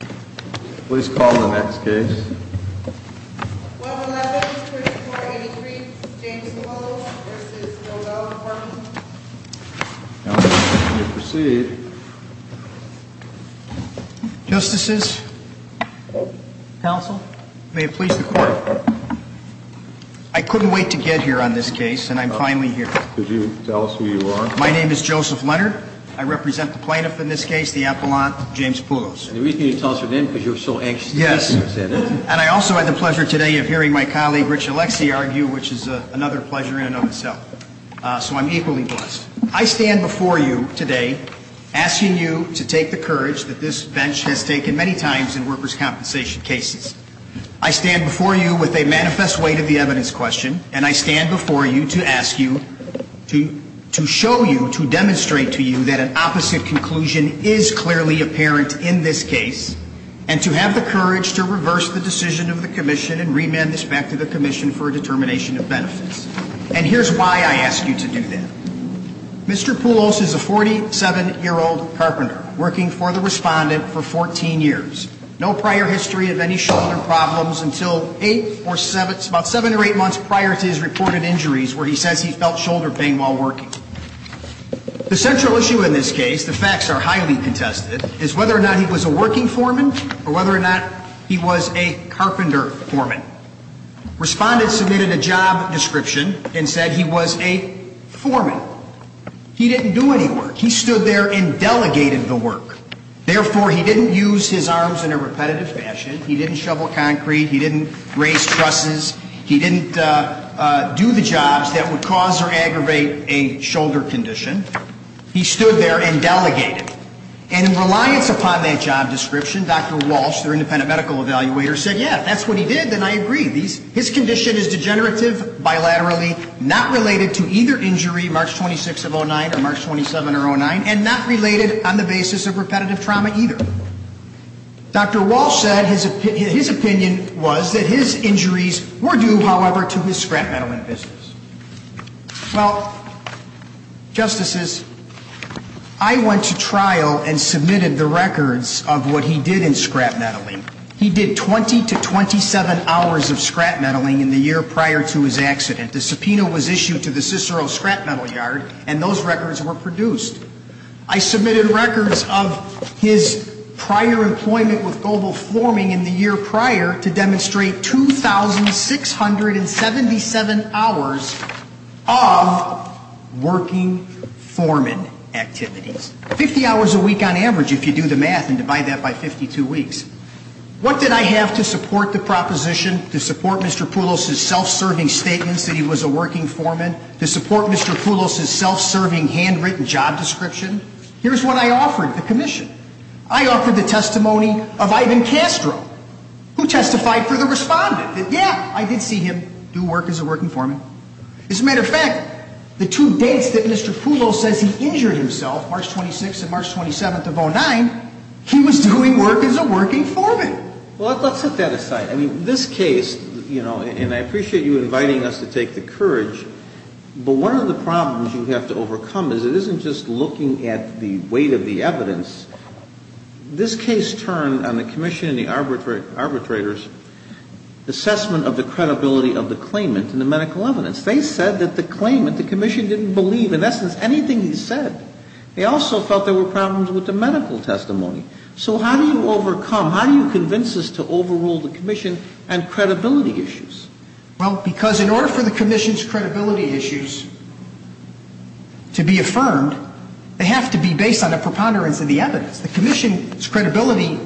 Please call the next case. 111, Pursuit 483, James Poulos v. Bilbell Department. Counsel, you may proceed. Justices. Counsel. May it please the Court. I couldn't wait to get here on this case, and I'm finally here. Could you tell us who you are? My name is Joseph Leonard. I represent the plaintiff in this case, the appellant, James Poulos. And the reason you tossed your name is because you were so anxious to be here today. Yes, and I also had the pleasure today of hearing my colleague, Rich Alexi, argue, which is another pleasure in and of itself. So I'm equally blessed. I stand before you today asking you to take the courage that this bench has taken many times in workers' compensation cases. I stand before you with a manifest weight of the evidence question, and I stand before you to ask you to show you, to demonstrate to you that an opposite conclusion is clearly apparent in this case, and to have the courage to reverse the decision of the Commission and remand this back to the Commission for a determination of benefits. And here's why I ask you to do that. Mr. Poulos is a 47-year-old carpenter working for the Respondent for 14 years. No prior history of any shoulder problems until eight or seven, about seven or eight months prior to his reported injuries where he says he felt shoulder pain while working. The central issue in this case, the facts are highly contested, is whether or not he was a working foreman or whether or not he was a carpenter foreman. Respondent submitted a job description and said he was a foreman. He didn't do any work. He stood there and delegated the work. Therefore, he didn't use his arms in a repetitive fashion. He didn't shovel concrete. He didn't raise trusses. He didn't do the jobs that would cause or aggravate a shoulder condition. He stood there and delegated. And in reliance upon that job description, Dr. Walsh, their independent medical evaluator, said, yeah, that's what he did, and I agree. His condition is degenerative, bilaterally, not related to either injury, March 26 of 09 or March 27 of 09, and not related on the basis of repetitive trauma either. Dr. Walsh said his opinion was that his injuries were due, however, to his scrap-medaling business. Well, Justices, I went to trial and submitted the records of what he did in scrap-medaling. He did 20 to 27 hours of scrap-medaling in the year prior to his accident. The subpoena was issued to the Cicero Scrap Metal Yard, and those records were produced. I submitted records of his prior employment with global forming in the year prior to demonstrate 2,677 hours of working foreman activities, 50 hours a week on average if you do the math and divide that by 52 weeks. What did I have to support the proposition, to support Mr. Poulos' self-serving statements that he was a working foreman, to support Mr. Poulos' self-serving handwritten job description? Here's what I offered the commission. I offered the testimony of Ivan Castro, who testified for the respondent that, yeah, I did see him do work as a working foreman. As a matter of fact, the two dates that Mr. Poulos says he injured himself, March 26th and March 27th of 2009, he was doing work as a working foreman. Well, let's set that aside. I mean, this case, you know, and I appreciate you inviting us to take the courage, but one of the problems you have to overcome is it isn't just looking at the weight of the evidence. This case turned on the commission and the arbitrators' assessment of the credibility of the claimant and the medical evidence. They said that the claimant, the commission, didn't believe in essence anything he said. They also felt there were problems with the medical testimony. So how do you overcome, how do you convince us to overrule the commission and credibility issues? Well, because in order for the commission's credibility issues to be affirmed, they have to be based on a preponderance of the evidence. The commission's credibility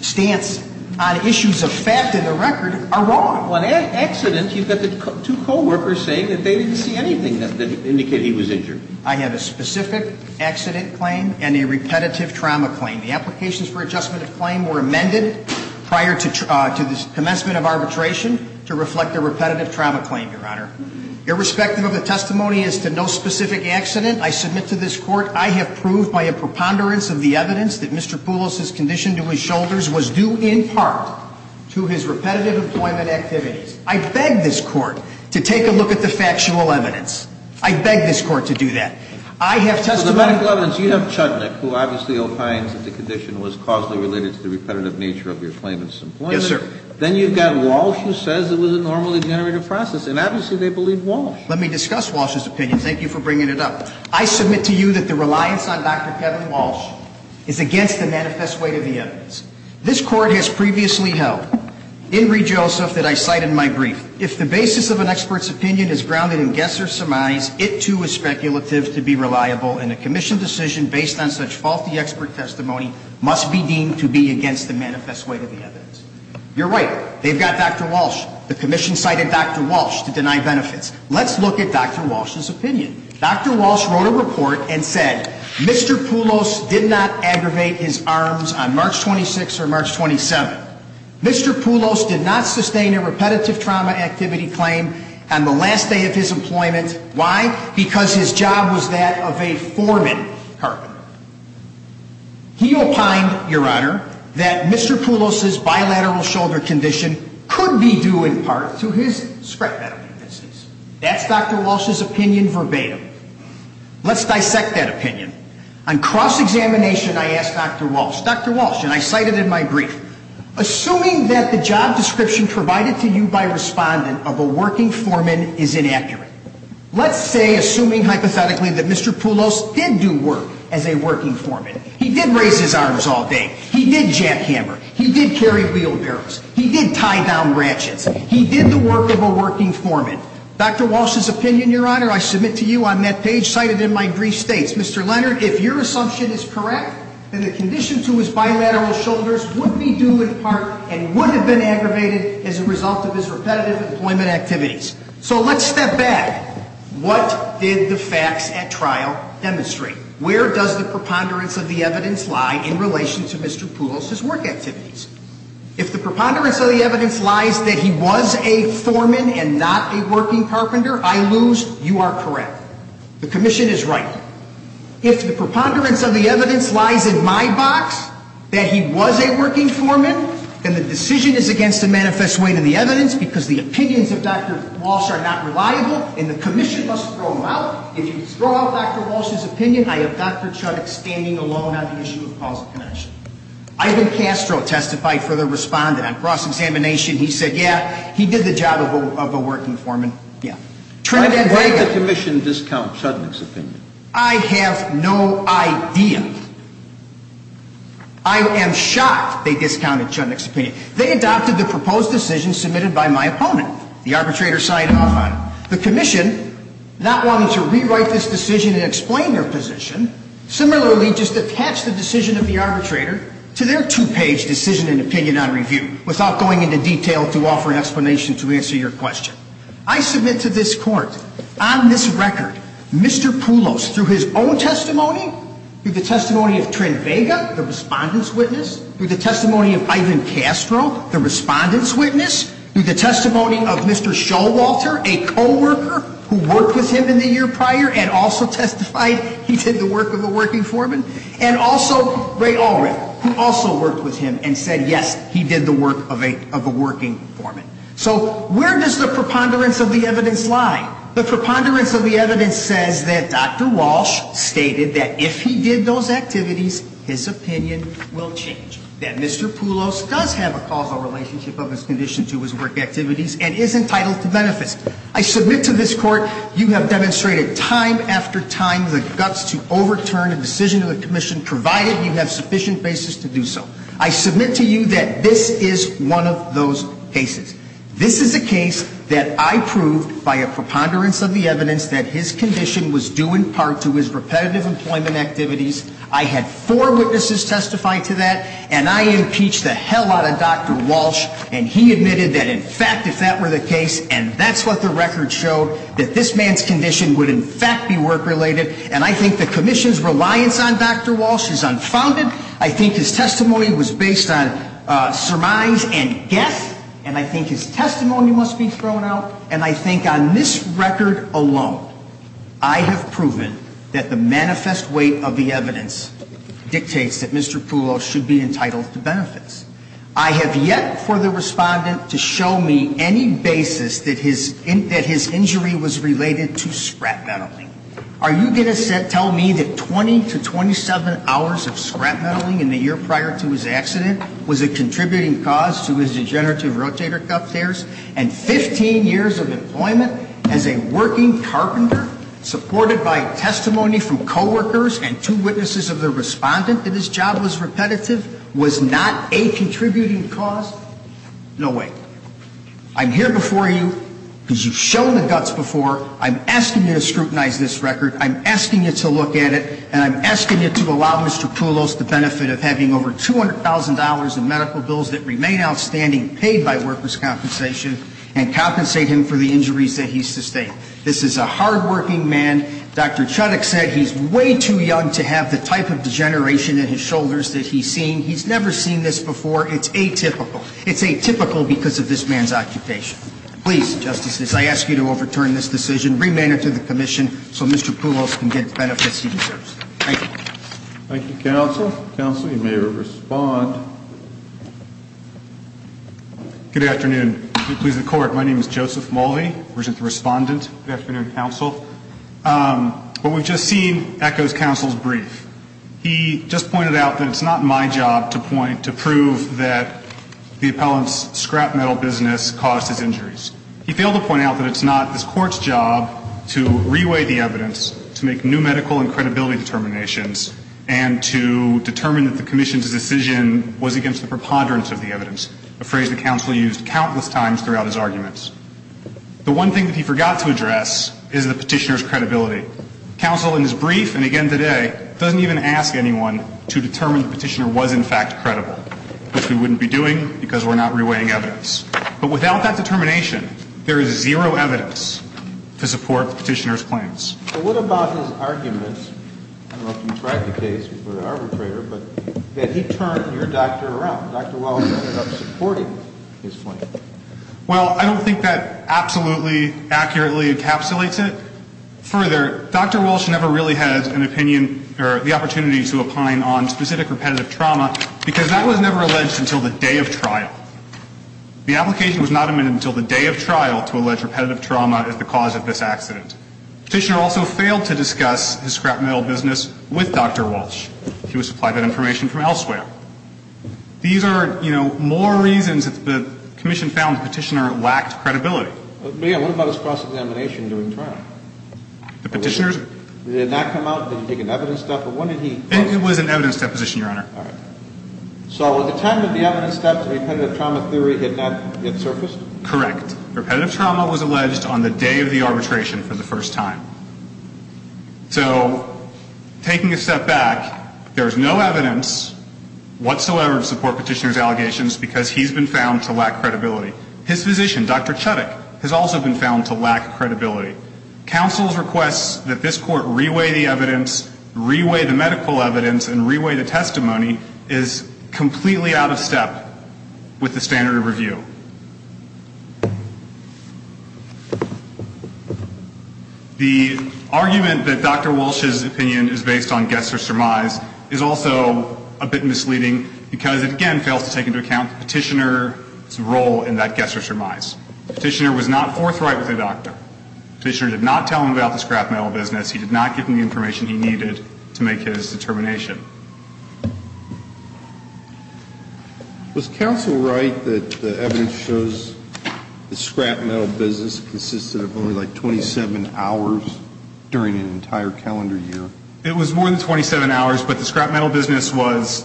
stance on issues of fact in the record are wrong. On accident, you've got the two co-workers saying that they didn't see anything that indicated he was injured. I have a specific accident claim and a repetitive trauma claim. The applications for adjustment of claim were amended prior to the commencement of arbitration to reflect the repetitive trauma claim, Your Honor. Irrespective of the testimony as to no specific accident, I submit to this Court I have proved by a preponderance of the evidence that Mr. Poulos' condition to his shoulders was due in part to his repetitive employment activities. I beg this Court to take a look at the factual evidence. I beg this Court to do that. I have testimony to that. So the medical evidence, you have Chudnik, who obviously opines that the condition was causally related to the repetitive nature of your claimant's employment. Yes, sir. Then you've got Walsh, who says it was a normally generated process, and obviously they believe Walsh. Let me discuss Walsh's opinion. Thank you for bringing it up. I submit to you that the reliance on Dr. Kevin Walsh is against the manifest weight of the evidence. This Court has previously held, in Reed-Joseph, that I cite in my brief, if the basis of an expert's opinion is grounded in guess or surmise, it, too, is speculative to be reliable, and a Commission decision based on such faulty expert testimony must be deemed to be against the manifest weight of the evidence. You're right. They've got Dr. Walsh. The Commission cited Dr. Walsh to deny benefits. Let's look at Dr. Walsh's opinion. Dr. Walsh wrote a report and said Mr. Poulos did not aggravate his arms on March 26 or March 27. Mr. Poulos did not sustain a repetitive trauma activity claim on the last day of his employment. Why? Because his job was that of a foreman carpenter. He opined, Your Honor, that Mr. Poulos's bilateral shoulder condition could be due, in part, to his scrap metal businesses. That's Dr. Walsh's opinion verbatim. Let's dissect that opinion. On cross-examination, I asked Dr. Walsh, Dr. Walsh, and I cite it in my brief, assuming that the job description provided to you by a respondent of a working foreman is inaccurate. Let's say, assuming hypothetically, that Mr. Poulos did do work as a working foreman. He did raise his arms all day. He did jackhammer. He did carry wheelbarrows. He did tie down branches. He did the work of a working foreman. Dr. Walsh's opinion, Your Honor, I submit to you on that page cited in my brief states. Mr. Leonard, if your assumption is correct, then the condition to his bilateral shoulders would be due, in part, and would have been aggravated as a result of his repetitive employment activities. So let's step back. What did the facts at trial demonstrate? Where does the preponderance of the evidence lie in relation to Mr. Poulos's work activities? If the preponderance of the evidence lies that he was a foreman and not a working carpenter, I lose. You are correct. The commission is right. If the preponderance of the evidence lies in my box that he was a working foreman, then the decision is against a manifest weight in the evidence because the opinions of Dr. Walsh are not reliable and the commission must throw them out. If you throw out Dr. Walsh's opinion, I have Dr. Chudnik standing alone on the issue of causal connection. Ivan Castro testified for the respondent. On cross-examination, he said, yeah, he did the job of a working foreman. Yeah. Why did the commission discount Chudnik's opinion? I have no idea. I am shocked they discounted Chudnik's opinion. They adopted the proposed decision submitted by my opponent. The arbitrator signed off on it. The commission, not wanting to rewrite this decision and explain their position, similarly just attached the decision of the arbitrator to their two-page decision and opinion on review without going into detail to offer an explanation to answer your question. I submit to this Court, on this record, Mr. Poulos, through his own testimony, through the testimony of Trin Vega, the respondent's witness, through the testimony of Ivan Castro, the respondent's witness, through the testimony of Mr. Showalter, a co-worker who worked with him in the year prior and also testified he did the work of a working foreman, and also Ray Ulrich, who also worked with him and said, yes, he did the work of a working foreman. So where does the preponderance of the evidence lie? The preponderance of the evidence says that Dr. Walsh stated that if he did those activities, his opinion will change, that Mr. Poulos does have a causal relationship of his condition to his work activities and is entitled to benefits. I submit to this Court, you have demonstrated time after time the guts to overturn a decision of the commission, provided you have sufficient basis to do so. I submit to you that this is one of those cases. This is a case that I proved by a preponderance of the evidence that his condition was due in part to his repetitive employment activities. I had four witnesses testify to that, and I impeached the hell out of Dr. Walsh, and he admitted that in fact, if that were the case, and that's what the record showed, that this man's condition would in fact be work-related. And I think the commission's reliance on Dr. Walsh is unfounded. I think his testimony was based on surmise and guess, and I think his testimony must be thrown out. And I think on this record alone, I have proven that the manifest weight of the evidence dictates that Mr. Poulos should be entitled to benefits. I have yet for the respondent to show me any basis that his injury was related to scrap metal. Are you going to tell me that 20 to 27 hours of scrap metal in the year prior to his accident was a contributing cause to his degenerative rotator cuff tears, and 15 years of employment as a working carpenter, supported by testimony from coworkers and two witnesses of the respondent that his job was repetitive, was not a contributing cause? No way. I'm here before you because you've shown the guts before. I'm asking you to scrutinize this record. I'm asking you to look at it, and I'm asking you to allow Mr. Poulos the benefit of having over $200,000 in medical bills that remain outstanding, paid by workers' compensation, and compensate him for the injuries that he sustained. This is a hardworking man. Dr. Chudik said he's way too young to have the type of degeneration in his shoulders that he's seeing. He's never seen this before. It's atypical. It's atypical because of this man's occupation. Please, Justice, as I ask you to overturn this decision, remand it to the commission so Mr. Poulos can get the benefits he deserves. Thank you. Thank you, counsel. Counsel, you may respond. Good afternoon. If you'll please the Court, my name is Joseph Mulvey. I'm the respondent. Good afternoon, counsel. What we've just seen echoes counsel's brief. He just pointed out that it's not my job to point, to prove that the appellant's scrap metal business caused his injuries. He failed to point out that it's not this Court's job to reweigh the evidence, to make new medical and credibility determinations, and to determine that the commission's decision was against the preponderance of the evidence, a phrase the counsel used countless times throughout his arguments. The one thing that he forgot to address is the petitioner's credibility. Counsel, in his brief, and again today, doesn't even ask anyone to determine the petitioner was, in fact, credible, which we wouldn't be doing because we're not reweighing evidence. But without that determination, there is zero evidence to support the petitioner's claims. But what about his arguments, I don't know if you've tried the case before the arbitrator, but that he turned your doctor around, Dr. Wallace ended up supporting his claim. Well, I don't think that absolutely accurately encapsulates it. Further, Dr. Walsh never really had an opinion or the opportunity to opine on specific repetitive trauma because that was never alleged until the day of trial. The application was not amended until the day of trial to allege repetitive trauma as the cause of this accident. The petitioner also failed to discuss his scrap metal business with Dr. Walsh. He was supplied that information from elsewhere. These are, you know, more reasons that the commission found the petitioner lacked credibility. But, yeah, what about his cross-examination during trial? The petitioner's... Did it not come out, did he take an evidence step, or when did he... It was an evidence deposition, Your Honor. All right. So at the time of the evidence steps, repetitive trauma theory had not yet surfaced? Correct. Repetitive trauma was alleged on the day of the arbitration for the first time. So, taking a step back, there is no evidence whatsoever to support petitioner's allegations because he's been found to lack credibility. His physician, Dr. Chudik, has also been found to lack credibility. Counsel's request that this court reweigh the evidence, reweigh the medical evidence, and reweigh the testimony is completely out of step with the standard of review. The argument that Dr. Walsh's opinion is based on guess or surmise is also a bit misleading because it, again, fails to take into account the petitioner's role in that guess or surmise. The petitioner was not forthright with the doctor. The petitioner did not tell him about the scrap metal business. He did not give him the information he needed to make his determination. Was counsel right that the evidence shows the scrap metal business consisted of only, like, 27 hours during an entire calendar year? It was more than 27 hours, but the scrap metal business was,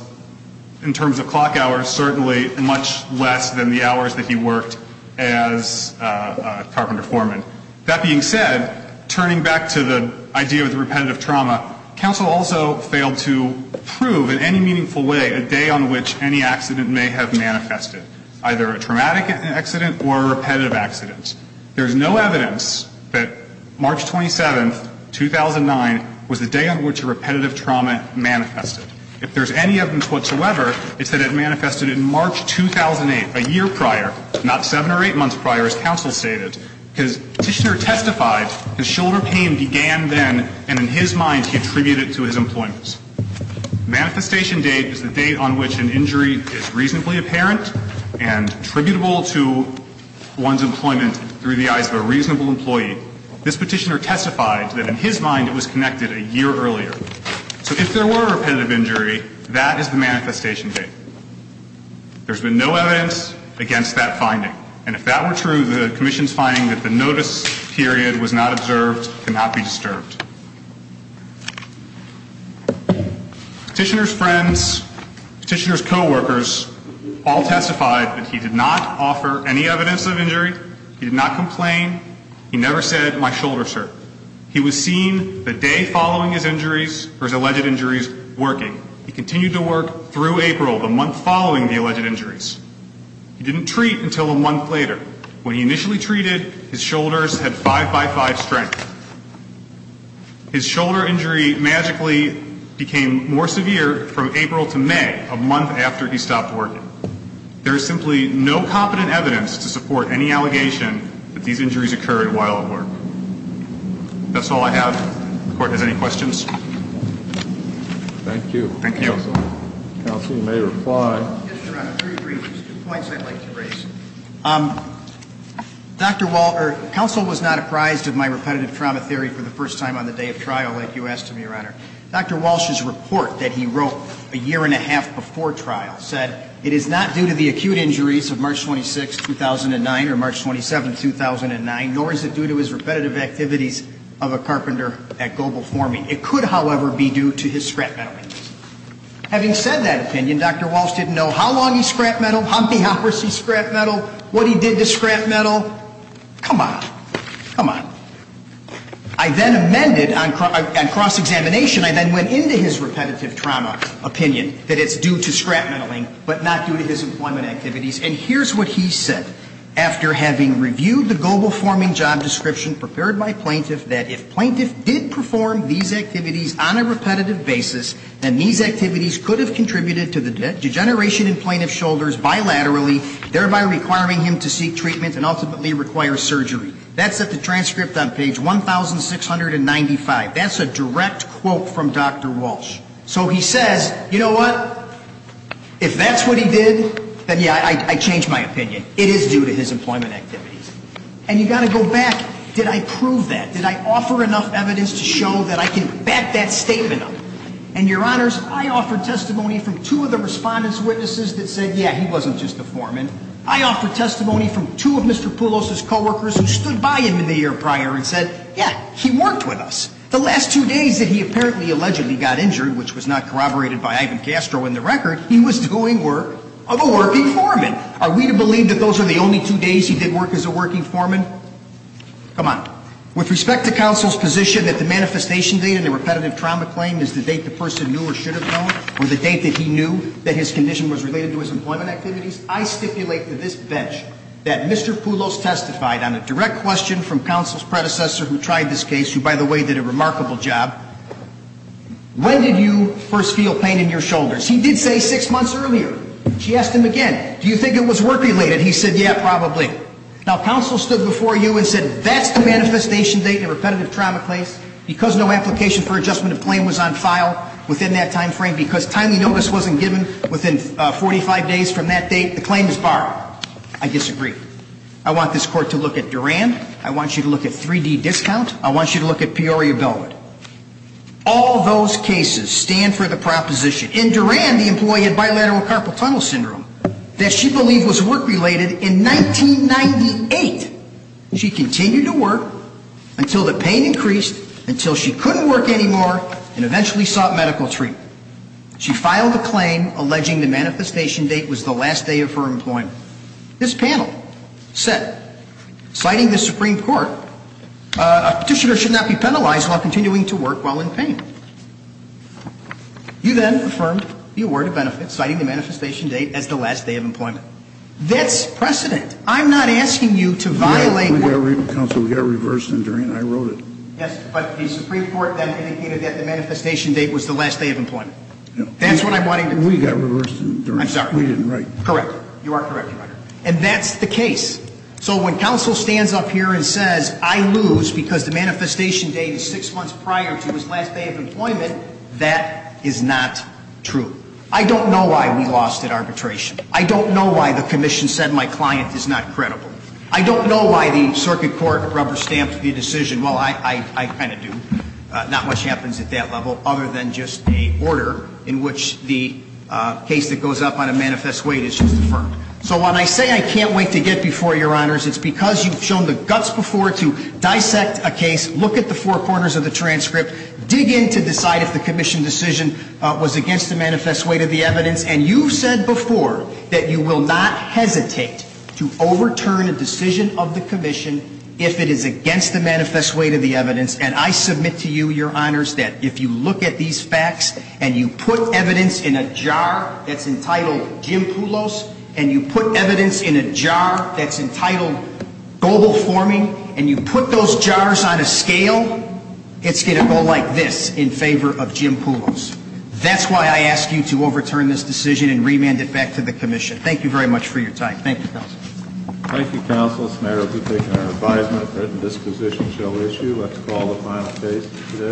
in terms of clock hours, certainly much less than the hours that he worked as a carpenter foreman. That being said, turning back to the idea of the repetitive trauma, counsel also failed to prove in any meaningful way a day on which any accident may have manifested, either a traumatic accident or a repetitive accident. There is no evidence that March 27, 2009, was the day on which a repetitive trauma manifested. If there's any evidence whatsoever, it's that it manifested in March 2008, a year prior, not seven or eight months prior, as counsel stated, because the petitioner testified that shoulder pain began then, and in his mind, he attributed it to his employment. The manifestation date is the date on which an injury is reasonably apparent and attributable to one's employment through the eyes of a reasonable employee. This petitioner testified that, in his mind, it was connected a year earlier. So if there were a repetitive injury, that is the manifestation date. There's been no evidence against that finding, and if that were true, the commission's finding that the notice period was not observed cannot be disturbed. Petitioner's friends, petitioner's co-workers all testified that he did not offer any evidence of injury. He did not complain. He never said, my shoulder, sir. He was seen the day following his injuries or his alleged injuries working. He continued to work through April, the month following the alleged injuries. He didn't treat until a month later. When he initially treated, his shoulders had five-by-five strength. His shoulder injury magically became more severe from April to May, a month after he stopped working. There is simply no competent evidence to support any allegation that these injuries occurred while at work. That's all I have. The Court has any questions? Thank you. Thank you. Counsel may reply. Yes, Your Honor. Three briefings, two points I'd like to raise. Counsel was not apprised of my repetitive trauma theory for the first time on the day of trial, like you asked of me, Your Honor. Dr. Walsh's report that he wrote a year and a half before trial said it is not due to the acute injuries of March 26, 2009, or March 27, 2009, nor is it due to his repetitive activities of a carpenter at Global Forming. It could, however, be due to his scrap metal injuries. Having said that opinion, Dr. Walsh didn't know how long he scrapped metal, how many hours he scrapped metal, what he did to scrap metal. Come on. Come on. I then amended on cross-examination. I then went into his repetitive trauma opinion that it's due to scrap metaling, but not due to his employment activities. And here's what he said. After having reviewed the Global Forming job description prepared by plaintiff, that if plaintiff did perform these activities on a repetitive basis, then these activities could have contributed to the degeneration in plaintiff's shoulders bilaterally, thereby requiring him to seek treatment and ultimately require surgery. That's at the transcript on page 1,695. That's a direct quote from Dr. Walsh. So he says, you know what, if that's what he did, then, yeah, I changed my opinion. It is due to his employment activities. And you've got to go back. Did I prove that? Did I offer enough evidence to show that I can back that statement up? And, Your Honors, I offered testimony from two of the respondents' witnesses that said, yeah, he wasn't just a foreman. I offered testimony from two of Mr. Poulos' coworkers who stood by him in the year prior and said, yeah, he worked with us. The last two days that he apparently allegedly got injured, which was not corroborated by Ivan Castro in the record, he was doing work of a working foreman. Are we to believe that those are the only two days he did work as a working foreman? Come on. With respect to counsel's position that the manifestation date in a repetitive trauma claim is the date the person knew or should have known or the date that he knew that his condition was related to his employment activities, I stipulate to this bench that Mr. Poulos testified on a direct question from counsel's predecessor who tried this case, who, by the way, did a remarkable job. When did you first feel pain in your shoulders? He did say six months earlier. She asked him again, do you think it was work-related? He said, yeah, probably. Now, counsel stood before you and said, that's the manifestation date in a repetitive trauma case? Because no application for adjustment of claim was on file within that time frame, because timely notice wasn't given within 45 days from that date, the claim is borrowed. I disagree. I want this court to look at Duran. I want you to look at 3D discount. I want you to look at Peoria Belmont. All those cases stand for the proposition. In Duran, the employee had bilateral carpal tunnel syndrome that she believed was work-related in 1998. She continued to work until the pain increased, until she couldn't work anymore, and eventually sought medical treatment. She filed a claim alleging the manifestation date was the last day of her employment. This panel said, citing the Supreme Court, a petitioner should not be penalized while continuing to work while in pain. You then affirmed you were to benefit, citing the manifestation date as the last day of employment. That's precedent. I'm not asking you to violate the court. Counsel, we got reversed in Duran. I wrote it. Yes, but the Supreme Court then indicated that the manifestation date was the last day of employment. That's what I'm wanting to do. We got reversed in Duran. I'm sorry. We didn't write it. Correct. You are correct, Your Honor. And that's the case. So when counsel stands up here and says, I lose because the manifestation date is six months prior to his last day of employment, that is not true. I don't know why we lost at arbitration. I don't know why the commission said my client is not credible. I don't know why the circuit court rubber-stamped the decision. Well, I kind of do. Not much happens at that level other than just a order in which the case that goes up on a manifest weight is just deferred. So when I say I can't wait to get before you, Your Honors, it's because you've shown the guts before to dissect a case, look at the four corners of the transcript, dig in to decide if the commission decision was against the manifest weight of the evidence. And you've said before that you will not hesitate to overturn a decision of the commission if it is against the manifest weight of the evidence. And I submit to you, Your Honors, that if you look at these facts and you put evidence in a jar that's entitled Jim Poulos, and you put evidence in a jar that's entitled global forming, and you put those jars on a scale, it's going to go like this in favor of Jim Poulos. That's why I ask you to overturn this decision and remand it back to the commission. Thank you very much for your time. Thank you, counsel. Thank you, counselors. The mayor will be taking our advisement that this position shall issue. Let's call the final case today.